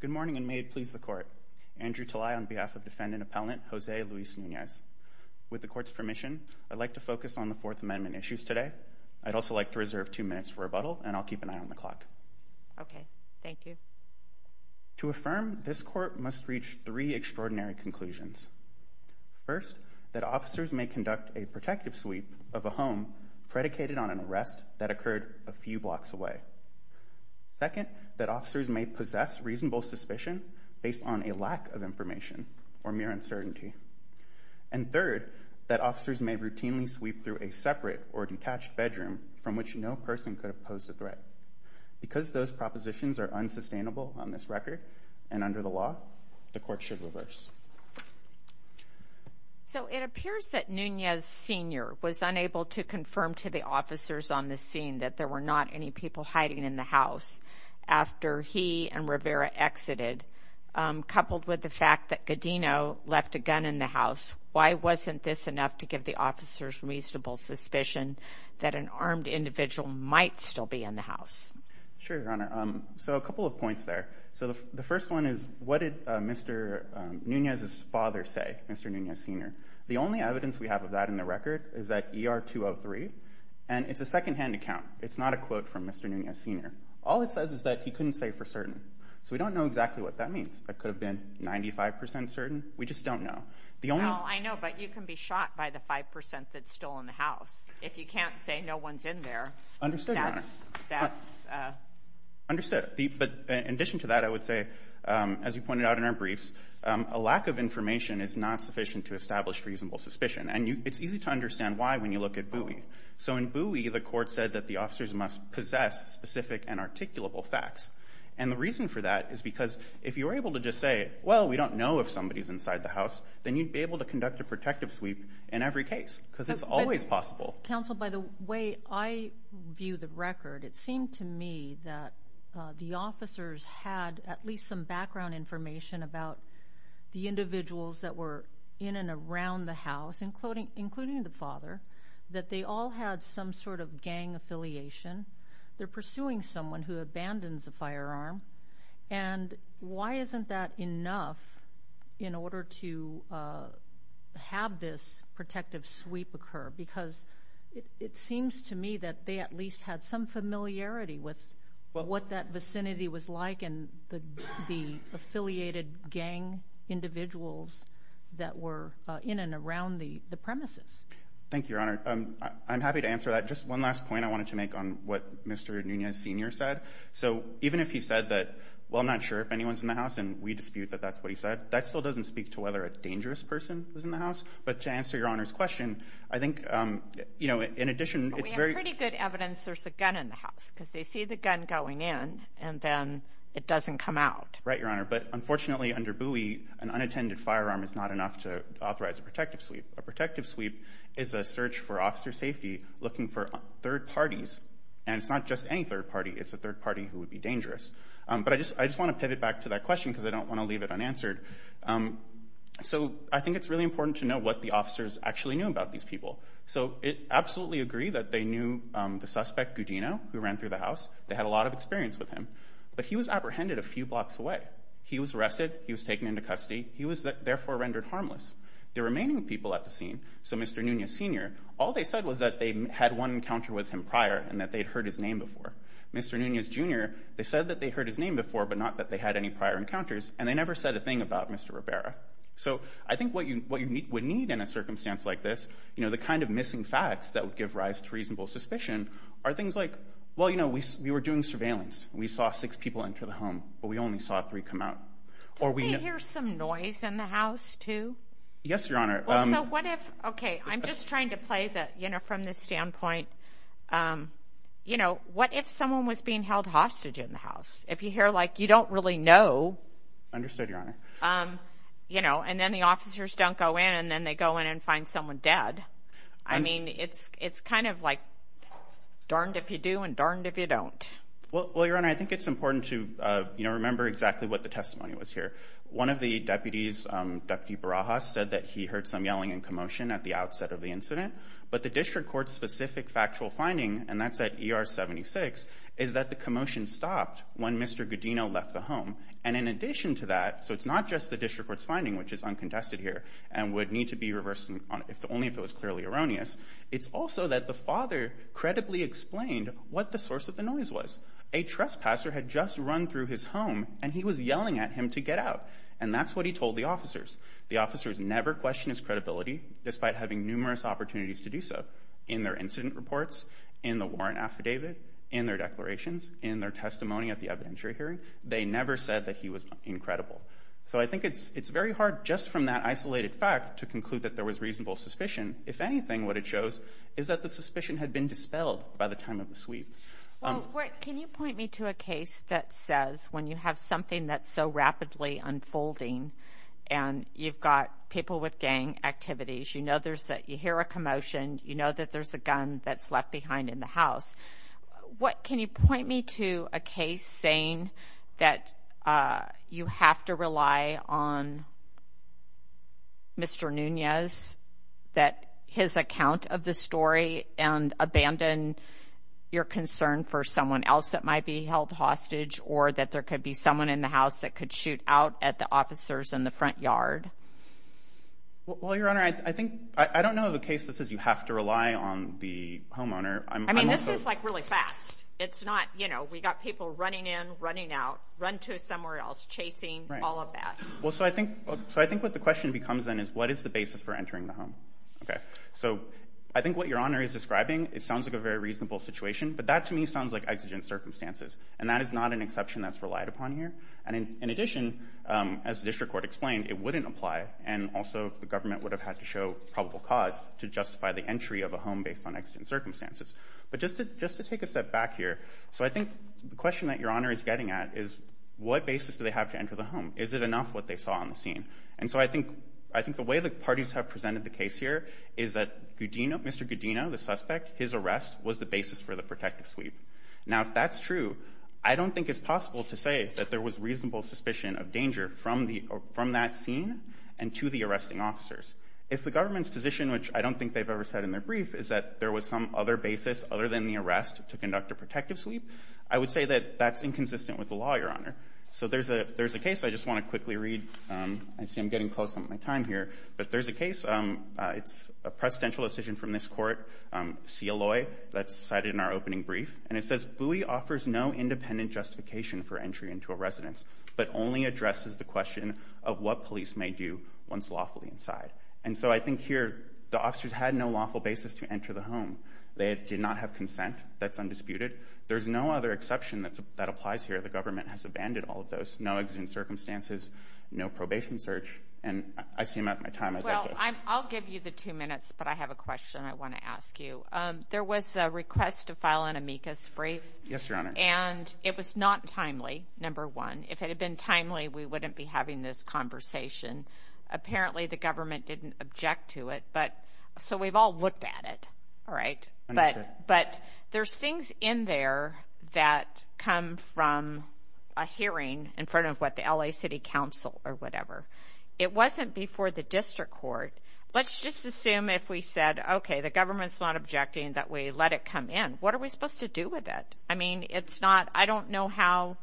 Good morning and may it please the court. Andrew Talai on behalf of defendant appellant Jose Luis Nunez. With the court's permission I'd like to focus on the Fourth Amendment issues today. I'd also like to reserve two minutes for a rebuttal and I'll keep an eye on the clock. Okay, thank you. To affirm this court must reach three extraordinary conclusions. First, that officers may conduct a protective sweep of a home predicated on an arrest that occurred a second, that officers may possess reasonable suspicion based on a lack of information or mere uncertainty. And third, that officers may routinely sweep through a separate or detached bedroom from which no person could oppose the threat. Because those propositions are unsustainable on this record and under the law, the court should reverse. So it appears that Nunez senior was unable to confirm to the officers on after he and Rivera exited, coupled with the fact that Godino left a gun in the house. Why wasn't this enough to give the officers reasonable suspicion that an armed individual might still be in the house? Sure, Your Honor. So a couple of points there. So the first one is, what did Mr Nunez's father say, Mr Nunez senior? The only evidence we have of that in the record is that ER 203 and it's a secondhand account. It's not a quote from Mr Nunez senior. All it says is that he couldn't say for certain. So we don't know exactly what that means. That could have been 95% certain. We just don't know. I know, but you can be shot by the 5% that's still in the house. If you can't say no one's in there. Understood. Understood. But in addition to that, I would say, as you pointed out in our briefs, a lack of information is not sufficient to establish reasonable suspicion. And it's easy to understand why when you look at Bowie. So in Bowie, the court said that the officers must possess specific and articulable facts. And the reason for that is because if you were able to just say, well, we don't know if somebody's inside the house, then you'd be able to conduct a protective sweep in every case because it's always possible. Counsel, by the way, I view the record. It seemed to me that the officers had at least some background information about the individuals that were in and around the that they all had some sort of gang affiliation. They're pursuing someone who abandons a firearm. And why isn't that enough in order to, uh, have this protective sweep occur? Because it seems to me that they at least had some familiarity with what that vicinity was like. And the affiliated gang individuals that were in and around the premises. Thank you, Your Honor. I'm happy to answer that. Just one last point I wanted to make on what Mr Nunez Senior said. So even if he said that, well, I'm not sure if anyone's in the house, and we dispute that that's what he said. That still doesn't speak to whether a dangerous person was in the house. But to answer your honor's question, I think, you know, in addition, it's very pretty good evidence. There's a gun in the house because they see the gun going in, and then it an unattended firearm is not enough to authorize a protective sweep. A protective sweep is a search for officer safety, looking for third parties. And it's not just any third party. It's a third party who would be dangerous. But I just I just want to pivot back to that question, because I don't want to leave it unanswered. Um, so I think it's really important to know what the officers actually knew about these people. So it absolutely agree that they knew the suspect, Goudino, who ran through the house. They had a lot of experience with him, but he was apprehended a few blocks away. He was arrested. He was taken into custody. He was therefore rendered harmless. The remaining people at the scene, so Mr Nunez, Sr. All they said was that they had one encounter with him prior and that they'd heard his name before. Mr Nunez, Jr. They said that they heard his name before, but not that they had any prior encounters. And they never said a thing about Mr Rivera. So I think what you what you need would need in a circumstance like this, you know, the kind of missing facts that would give rise to reasonable suspicion are things like, Well, you know, we were doing surveillance. We saw six people into the home, but we only saw three come or we hear some noise in the house, too. Yes, Your Honor. What if? Okay, I'm just trying to play that, you know, from this standpoint, um, you know, what if someone was being held hostage in the house? If you hear like you don't really know. Understood, Your Honor. Um, you know, and then the officers don't go in and then they go in and find someone dead. I mean, it's it's kind of like darned if you do and darned if you don't. Well, Your Honor, I think it's important to, you know, remember exactly what the testimony was here. One of the deputies, Deputy Barajas, said that he heard some yelling and commotion at the outset of the incident. But the district court's specific factual finding, and that's that ER 76 is that the commotion stopped when Mr Godino left the home. And in addition to that, so it's not just the district court's finding, which is uncontested here and would need to be reversed on if only if it was clearly erroneous. It's also that the father credibly explained what the source of the noise was a trespasser had just run through his home and he was yelling at him to get out. And that's what he told the officers. The officers never question his credibility, despite having numerous opportunities to do so in their incident reports, in the warrant affidavit, in their declarations, in their testimony at the evidentiary hearing. They never said that he was incredible. So I think it's it's very hard just from that isolated fact to conclude that there was reasonable suspicion. If anything, what it shows is that the suspicion had been dispelled by the time of the sweep. Can you point me to a case that says when you have something that's so rapidly unfolding and you've got people with gang activities, you know there's that you hear a commotion, you know that there's a gun that's left behind in the house. What? Can you point me to a case saying that you have to rely on Mr Nunez that his account of the story and abandon your concern for someone else that might be held hostage or that there could be someone in the house that could shoot out at the officers in the front yard? Well, your honor, I think I don't know of a case that says you have to rely on the homeowner. I mean, this is like really fast. It's not. You know, we got people running in, running out, run to somewhere else, chasing all of that. Well, so I think so. I think what the question becomes then is what is the basis for entering the home? Okay, so I think what your honor is describing, it sounds like a very reasonable situation, but that to me sounds like exigent circumstances, and that is not an exception that's relied upon here. And in addition, as the district court explained, it wouldn't apply. And also the government would have had to show probable cause to justify the entry of a home based on exigent circumstances. But just to just to take a step back here. So I think the question that your honor is getting at is what basis do they have to enter the home? Is it enough what they saw on the scene? And so I think I think the way the parties have presented the case here is that Mr Gudino, the suspect, his arrest was the basis for the conduct of protective sleep. Now, if that's true, I don't think it's possible to say that there was reasonable suspicion of danger from that scene and to the arresting officers. If the government's position, which I don't think they've ever said in their brief, is that there was some other basis other than the arrest to conduct a protective sleep, I would say that that's inconsistent with the law, your honor. So there's a there's a case I just want to quickly read. I see I'm getting close on my time here, but there's a case. It's a opening brief, and it says Bowie offers no independent justification for entry into a residence, but only addresses the question of what police may do once lawfully inside. And so I think here the officers had no lawful basis to enter the home. They did not have consent. That's undisputed. There's no other exception that that applies here. The government has abandoned all of those no existing circumstances, no probation search, and I seem at my time. I'll give you the two minutes, but I have a question I want to ask you. There was a request to file an amicus brief. Yes, your honor. And it was not timely, number one. If it had been timely, we wouldn't be having this conversation. Apparently the government didn't object to it, but so we've all looked at it, all right? But but there's things in there that come from a hearing in front of what the LA City Council or whatever. It wasn't before the district court. Let's just What are we supposed to do with it? I mean, it's not, I don't know how.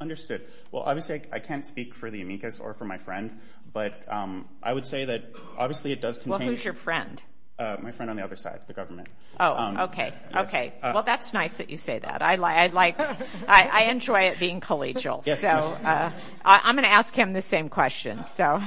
Understood. Well, obviously I can't speak for the amicus or for my friend, but I would say that obviously it does contain... Well, who's your friend? My friend on the other side, the government. Oh, okay. Okay, well that's nice that you say that. I like, I enjoy it being collegial. So I'm gonna ask him the same question. So,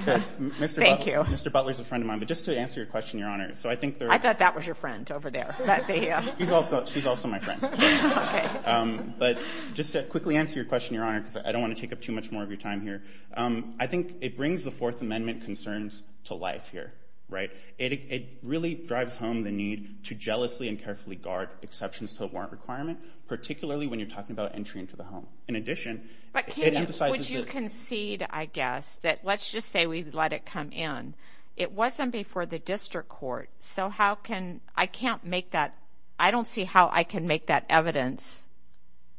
thank you. Mr. Butler's a friend of mine, but just to answer your question, your honor, so I think... I thought that was your friend over there. He's also, she's also my friend, but just to quickly answer your question, your honor, because I don't want to take up too much more of your time here. I think it brings the Fourth Amendment concerns to life here, right? It really drives home the need to jealously and carefully guard exceptions to a warrant requirement, particularly when you're talking about entry into the home. In addition... But can you concede, I guess, that let's just say we let it come in. It wasn't before the district court, so how can... I can't make that... I don't see how I can make that evidence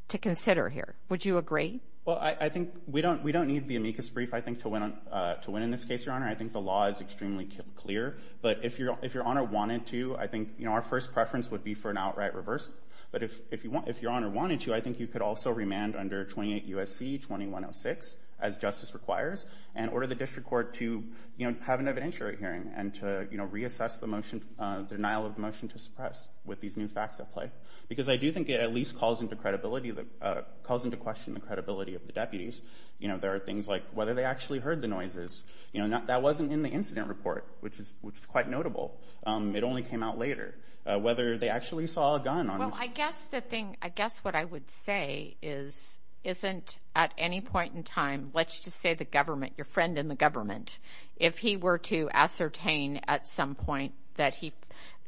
to consider here. Would you agree? Well, I think we don't, we don't need the amicus brief, I think, to win, to win in this case, your honor. I think the law is extremely clear, but if your, if your honor wanted to, I think, you know, our first preference would be for an outright reverse. But if, if you want, if your honor wanted to, I think you could also remand under 28 U.S.C. 2106, as justice requires, and order the district court to, you know, have an evidentiary hearing and to, you know, reassess the motion, the denial of the motion to suppress with these new facts at play. Because I do think it at least calls into credibility that, calls into question the credibility of the deputies. You know, there are things like whether they actually heard the noises. You know, that wasn't in the incident report, which is, which is quite notable. It only came out later. Whether they actually saw a gun on... Well, I guess the thing, I guess what I would say is, isn't at any point in the government, your friend in the government, if he were to ascertain at some point that he...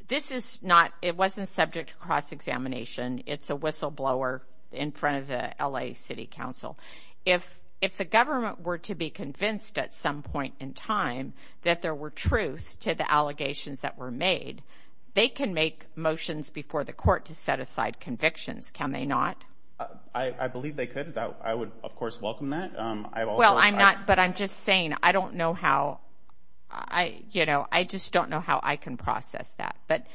This is not, it wasn't subject to cross-examination. It's a whistleblower in front of the LA City Council. If, if the government were to be convinced at some point in time that there were truth to the allegations that were made, they can make motions before the court to set aside convictions. Can they not? I, I believe they could. I would, of course, welcome that. Well, I'm not but I'm just saying, I don't know how I, you know, I just don't know how I can process that. But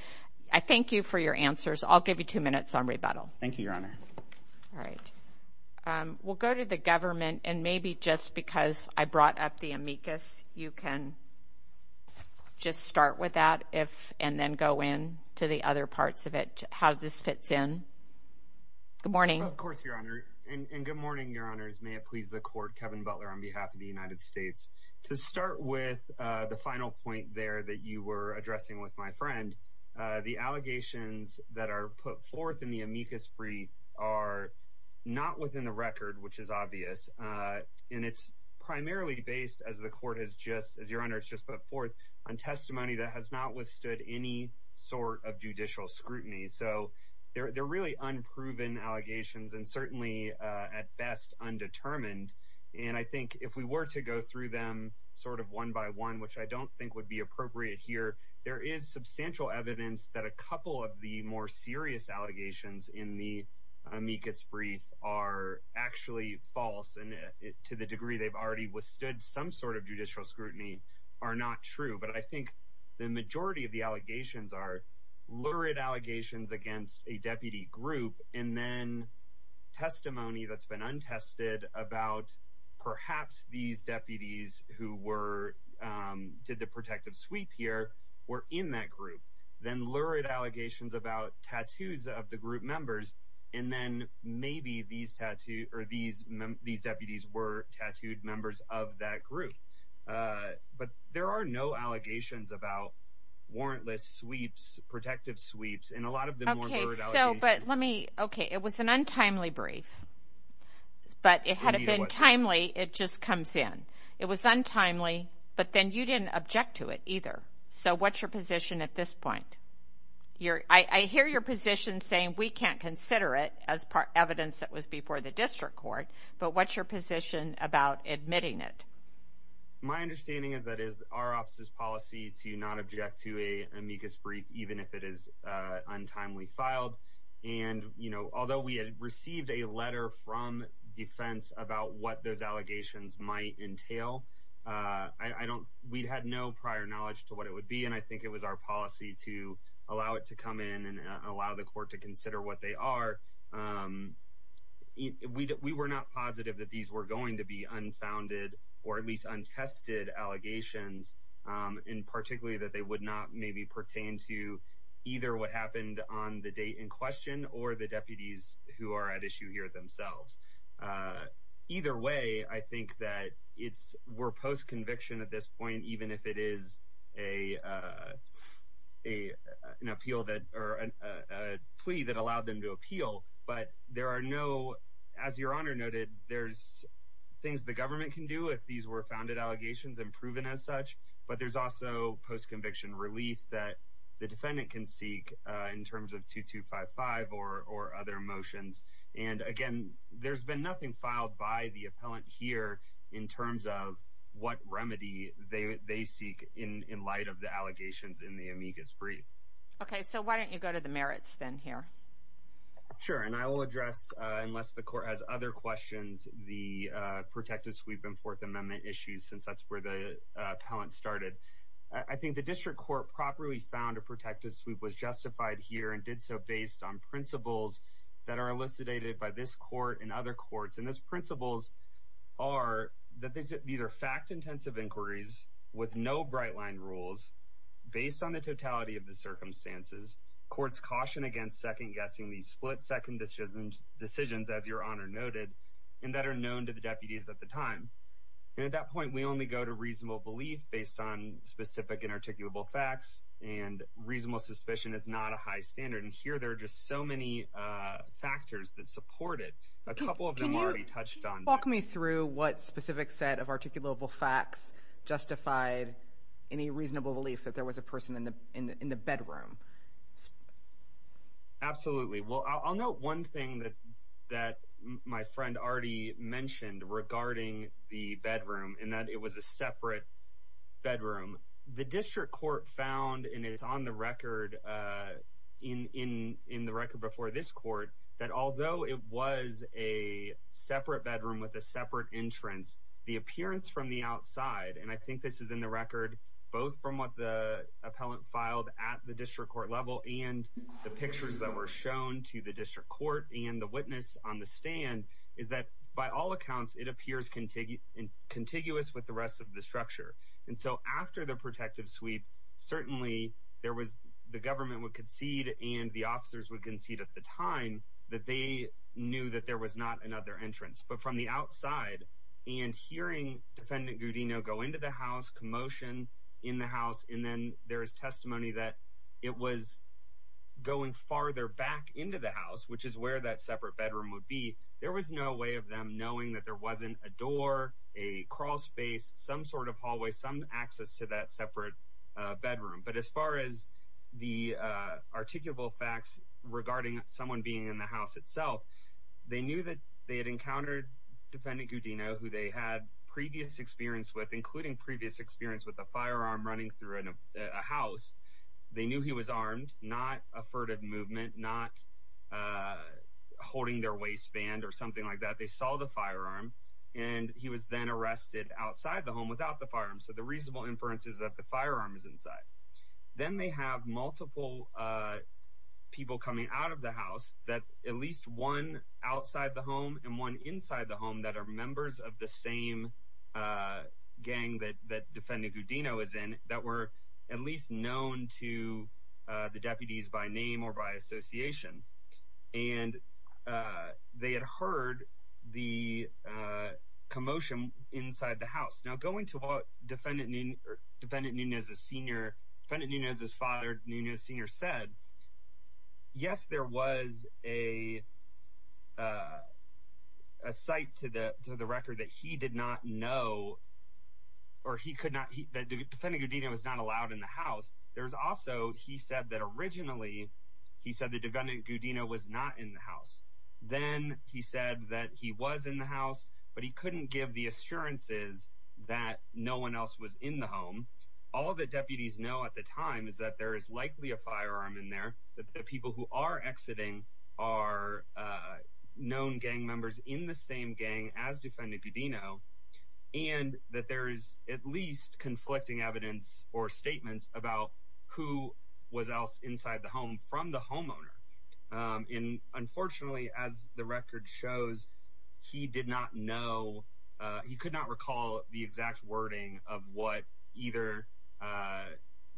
I thank you for your answers. I'll give you two minutes on rebuttal. Thank you, Your Honor. All right. Um, we'll go to the government and maybe just because I brought up the amicus, you can just start with that if, and then go in to the other parts of it, how this fits in. Good morning. Of course, Your Honor. And good morning, Your Honors. May it please the court, Kevin Butler on behalf of the United States. To start with, the final point there that you were addressing with my friend, the allegations that are put forth in the amicus brief are not within the record, which is obvious. Uh, and it's primarily based as the court has just, as Your Honor, it's just put forth on testimony that has not withstood any sort of judicial scrutiny. So they're really unproven allegations and certainly at best undetermined. And I think if we were to go through them sort of one by one, which I don't think would be appropriate here, there is substantial evidence that a couple of the more serious allegations in the amicus brief are actually false. And to the degree they've already withstood some sort of judicial scrutiny are not true. But I think the majority of the allegations are lurid allegations against a deputy group and then testimony that's been untested about perhaps these deputies who were, um, did the protective sweep here were in that group, then lurid allegations about tattoos of the group members. And then maybe these tattoo or these these deputies were tattooed members of that group. Uh, but there are no allegations about warrantless sweeps, protective sweeps and a lot of okay. So but let me okay. It was an untimely brief, but it had been timely. It just comes in. It was untimely. But then you didn't object to it either. So what's your position at this point? You're I hear your position saying we can't consider it as part evidence that was before the district court. But what's your position about admitting it? My understanding is that is our office's policy to not object to a amicus brief, even if it is untimely filed. And, you know, although we had received a letter from defense about what those allegations might entail, I don't. We had no prior knowledge to what it would be, and I think it was our policy to allow it to come in and allow the court to consider what they are. Um, we were not positive that these were in particularly that they would not maybe pertain to either what happened on the day in question or the deputies who are at issue here themselves. Uh, either way, I think that it's were post conviction at this point, even if it is a, uh, a an appeal that or a plea that allowed them to appeal. But there are no. As your honor noted, there's things the government can do if these were founded allegations and proven as such. But there's also post conviction relief that the defendant can seek in terms of 2255 or or other motions. And again, there's been nothing filed by the appellant here in terms of what remedy they seek in light of the allegations in the amicus brief. Okay, so why don't you go to the merits then here? Sure. And I will address unless the court has other questions, the protective sweep and Fourth Amendment issues, since that's where the appellant started. I think the district court properly found a protective sweep was justified here and did so based on principles that are elucidated by this court and other courts. And those principles are that these are fact intensive inquiries with no bright line rules based on the totality of the circumstances. Courts caution against second guessing these split second decisions as your honor noted and that are known to the deputies at the time. And at that point, we only go to reasonable belief based on specific and articulable facts and reasonable suspicion is not a high standard. And here there are just so many factors that supported a couple of them already touched on. Walk me through what specific set of articulable facts justified any reasonable belief that there was a person in the in the bedroom. Absolutely. Well, I'll note one thing that that my friend already mentioned regarding the bedroom and that it was a separate bedroom. The district court found, and it's on the record, uh, in in in the record before this court that, although it was a separate bedroom with a separate entrance, the appearance from the outside, and I think this is in the record both from what the were shown to the district court and the witness on the stand is that by all accounts, it appears contiguous and contiguous with the rest of the structure. And so after the protective sweep, certainly there was the government would concede and the officers would concede at the time that they knew that there was not another entrance. But from the outside and hearing defendant Goodino go into the house commotion in the house, and then there is testimony that it was going farther back into the house, which is where that separate bedroom would be. There was no way of them knowing that there wasn't a door, a crawlspace, some sort of hallway, some access to that separate bedroom. But as far as the articulable facts regarding someone being in the house itself, they knew that they had encountered defendant Goodino, who they had previous experience with, including previous experience with the firearm running through a house. They knew he was armed, not a furtive movement, not, uh, holding their waistband or something like that. They saw the firearm, and he was then arrested outside the home without the farm. So the reasonable inferences that the firearm is inside. Then they have multiple, uh, people coming out of the house that at least one outside the defendant Goodino is in that were at least known to the deputies by name or by association. And, uh, they had heard the, uh, commotion inside the house. Now, going to a defendant named Defendant Nunez Sr. Defendant Nunez's father, Nunez Sr. said, yes, there was a, uh, a site to the to the record that he did not know, or he could not. Defendant Goodino was not allowed in the house. There's also, he said that originally, he said the defendant Goodino was not in the house. Then he said that he was in the house, but he couldn't give the assurances that no one else was in the home. All the deputies know at the time is that there is likely a firearm in there that the people who are exiting are known gang members in the same gang as Defendant Goodino, and that there is at least conflicting evidence or statements about who was else inside the home from the homeowner. Um, and unfortunately, as the record shows, he did not know. He could not recall the exact wording of what either, uh,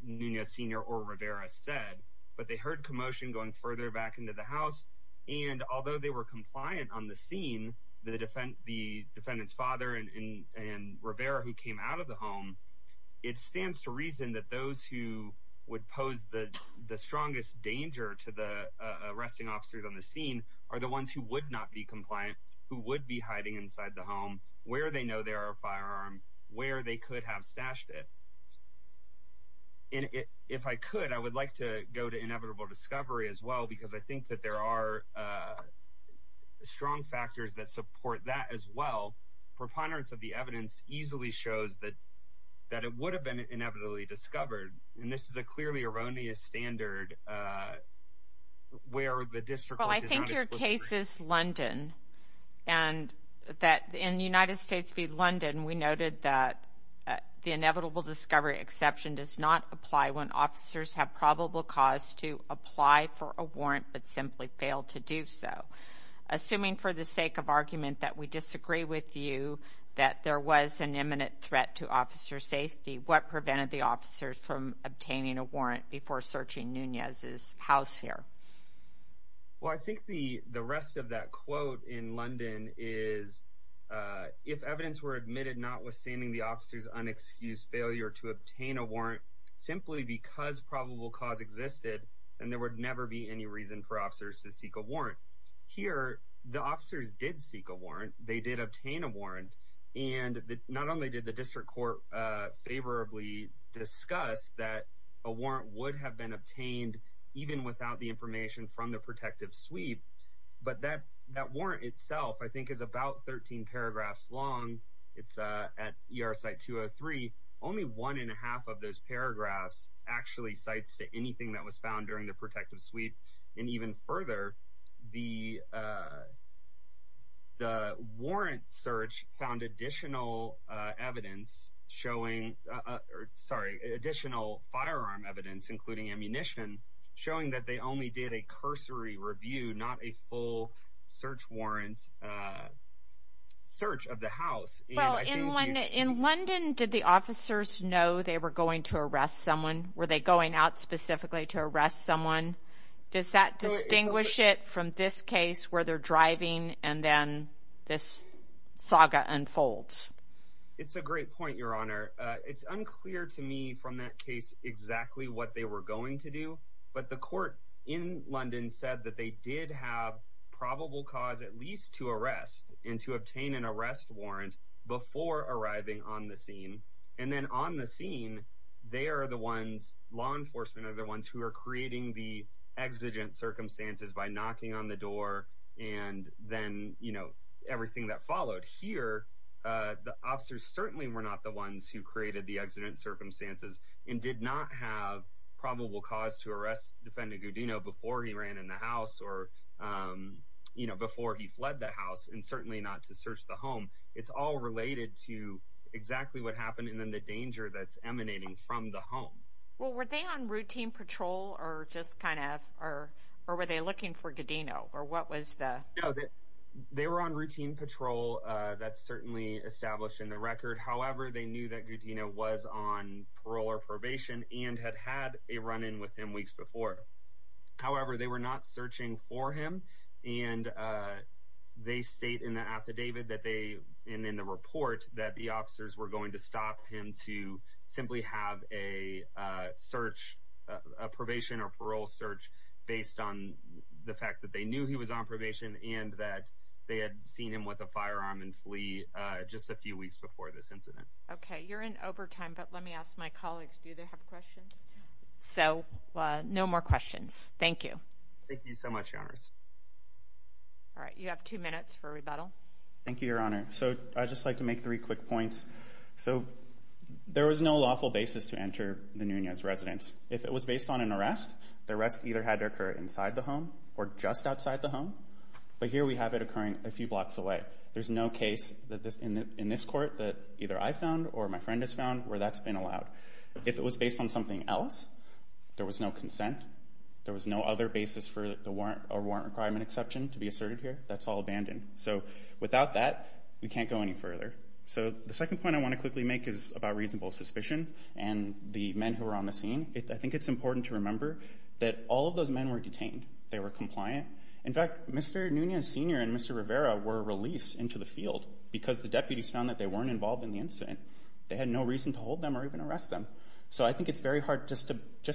Nunez Sr. or Rivera said, but they heard commotion going further back into the house. And although they were his father and Rivera, who came out of the home, it stands to reason that those who would pose the strongest danger to the arresting officers on the scene are the ones who would not be compliant, who would be hiding inside the home where they know there are firearm where they could have stashed it. And if I could, I would like to go to inevitable discovery as well, because I think that there are, uh, strong factors that support that as well. Preponderance of the evidence easily shows that that it would have been inevitably discovered. And this is a clearly erroneous standard. Uh, where the district? Well, I think your case is London and that in the United States be London. We noted that the inevitable discovery exception does not apply when officers have probable cause to apply for a warrant but simply failed to do so. Assuming for the sake of argument that we disagree with you that there was an imminent threat to officer safety, what prevented the officers from obtaining a warrant before searching Nunez's house here? Well, I think the rest of that quote in London is, uh, if evidence were admitted, not withstanding the officer's unexcused failure to obtain a warrant simply because probable cause existed and there would never be any reason for officers to seek a warrant. Here, the officers did seek a warrant. They did obtain a warrant, and not only did the district court favorably discussed that a warrant would have been obtained even without the information from the protective sweep, but that that warrant itself, I think, is about 13 paragraphs long. It's at your site to a three. Only one and a half of those paragraphs actually sites to anything that was found during the and even further, the, uh, the warrant search found additional evidence showing sorry, additional firearm evidence, including ammunition, showing that they only did a cursory review, not a full search warrant, uh, search of the house. Well, in London, in London, did the officers know they were going to arrest someone? Were they going out specifically to arrest someone? Does that distinguish it from this case where they're driving and then this saga unfolds? It's a great point, Your Honor. It's unclear to me from that case exactly what they were going to do. But the court in London said that they did have probable cause, at least to arrest and to obtain an arrest warrant before arriving on the scene. And then on the scene, they're the ones law enforcement are the ones who are creating the exigent circumstances by knocking on the door. And then, you know, everything that followed here, the officers certainly were not the ones who created the accident circumstances and did not have probable cause to arrest Defendant Godino before he ran in the house or, um, you know, before he fled the house and certainly not to search the home. It's all related to exactly what happened. And then the danger that's emanating from the home. Well, were they on routine patrol or just kind of or or were they looking for Godino? Or what was that? They were on routine patrol. That's certainly established in the record. However, they knew that Godino was on parole or probation and had had a run in with him weeks before. However, they were not searching for him. And, uh, they state in the affidavit that they and in the report that the officers were going to stop him to simply have a search, a probation or parole search based on the fact that they knew he was on probation and that they had seen him with a firearm and flee just a few weeks before this incident. Okay, you're in overtime. But let me ask my colleagues. Do they have questions? So no more questions. Thank you. Thank you so much. Honors. All right. You have two minutes for rebuttal. Thank you, Your Honor. So I just like to make three quick points. So there was no lawful basis to enter the Nunez residence. If it was based on an arrest, the rest either had to occur inside the home or just outside the home. But here we have it occurring a few blocks away. There's no case that this in this court that either I found or my friend has found where that's been allowed. If it was based on something else, there was no consent. There was no other basis for the warrant or warrant requirement exception to be asserted here. That's all abandoned. So without that, we can't go any further. So the second point I wanna quickly make is about reasonable suspicion and the men who were on the scene. I think it's important to remember that all of those men were detained. They were compliant. In fact, Mr. Nunez Sr. and Mr. Rivera were released into the field because the deputies found that they weren't involved in the incident. They had no reason to hold them or even arrest them. So I think it's very hard just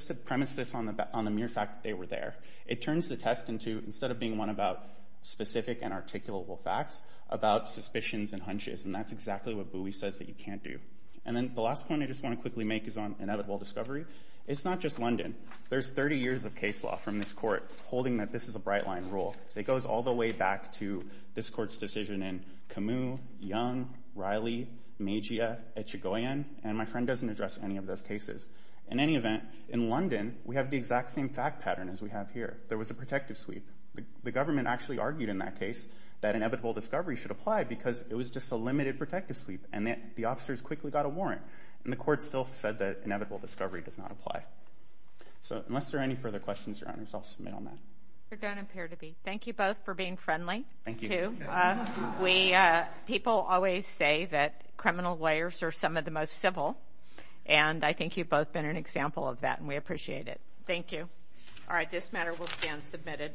to premise this on the mere fact that they were there. It turns the test into, instead of being one about specific and articulable facts, about suspicions and hunches. And that's exactly what Bowie says that you can't do. And then the last point I just wanna quickly make is on inevitable discovery. It's not just London. There's 30 years of case law from this court holding that this is a bright line rule. It goes all the way back to this court's decision in Camus, Young, Riley, Mejia, Echigoian, and my friend doesn't address any of those cases. In any event, in London, we have the exact same fact pattern as we have here. There was a protective sweep. The government actually argued in that case that inevitable discovery should apply because it was just a limited protective sweep, and the officers quickly got a warrant. And the court still said that inevitable discovery does not apply. So unless there are any further questions, Your Honor, I'll submit on that. There don't appear to be. Thank you both for being friendly. Thank you. We... People always say that criminal lawyers are some of the most civil, and I think you've both been an example of that, and we appreciate it. Thank you. Alright, this matter will stand submitted.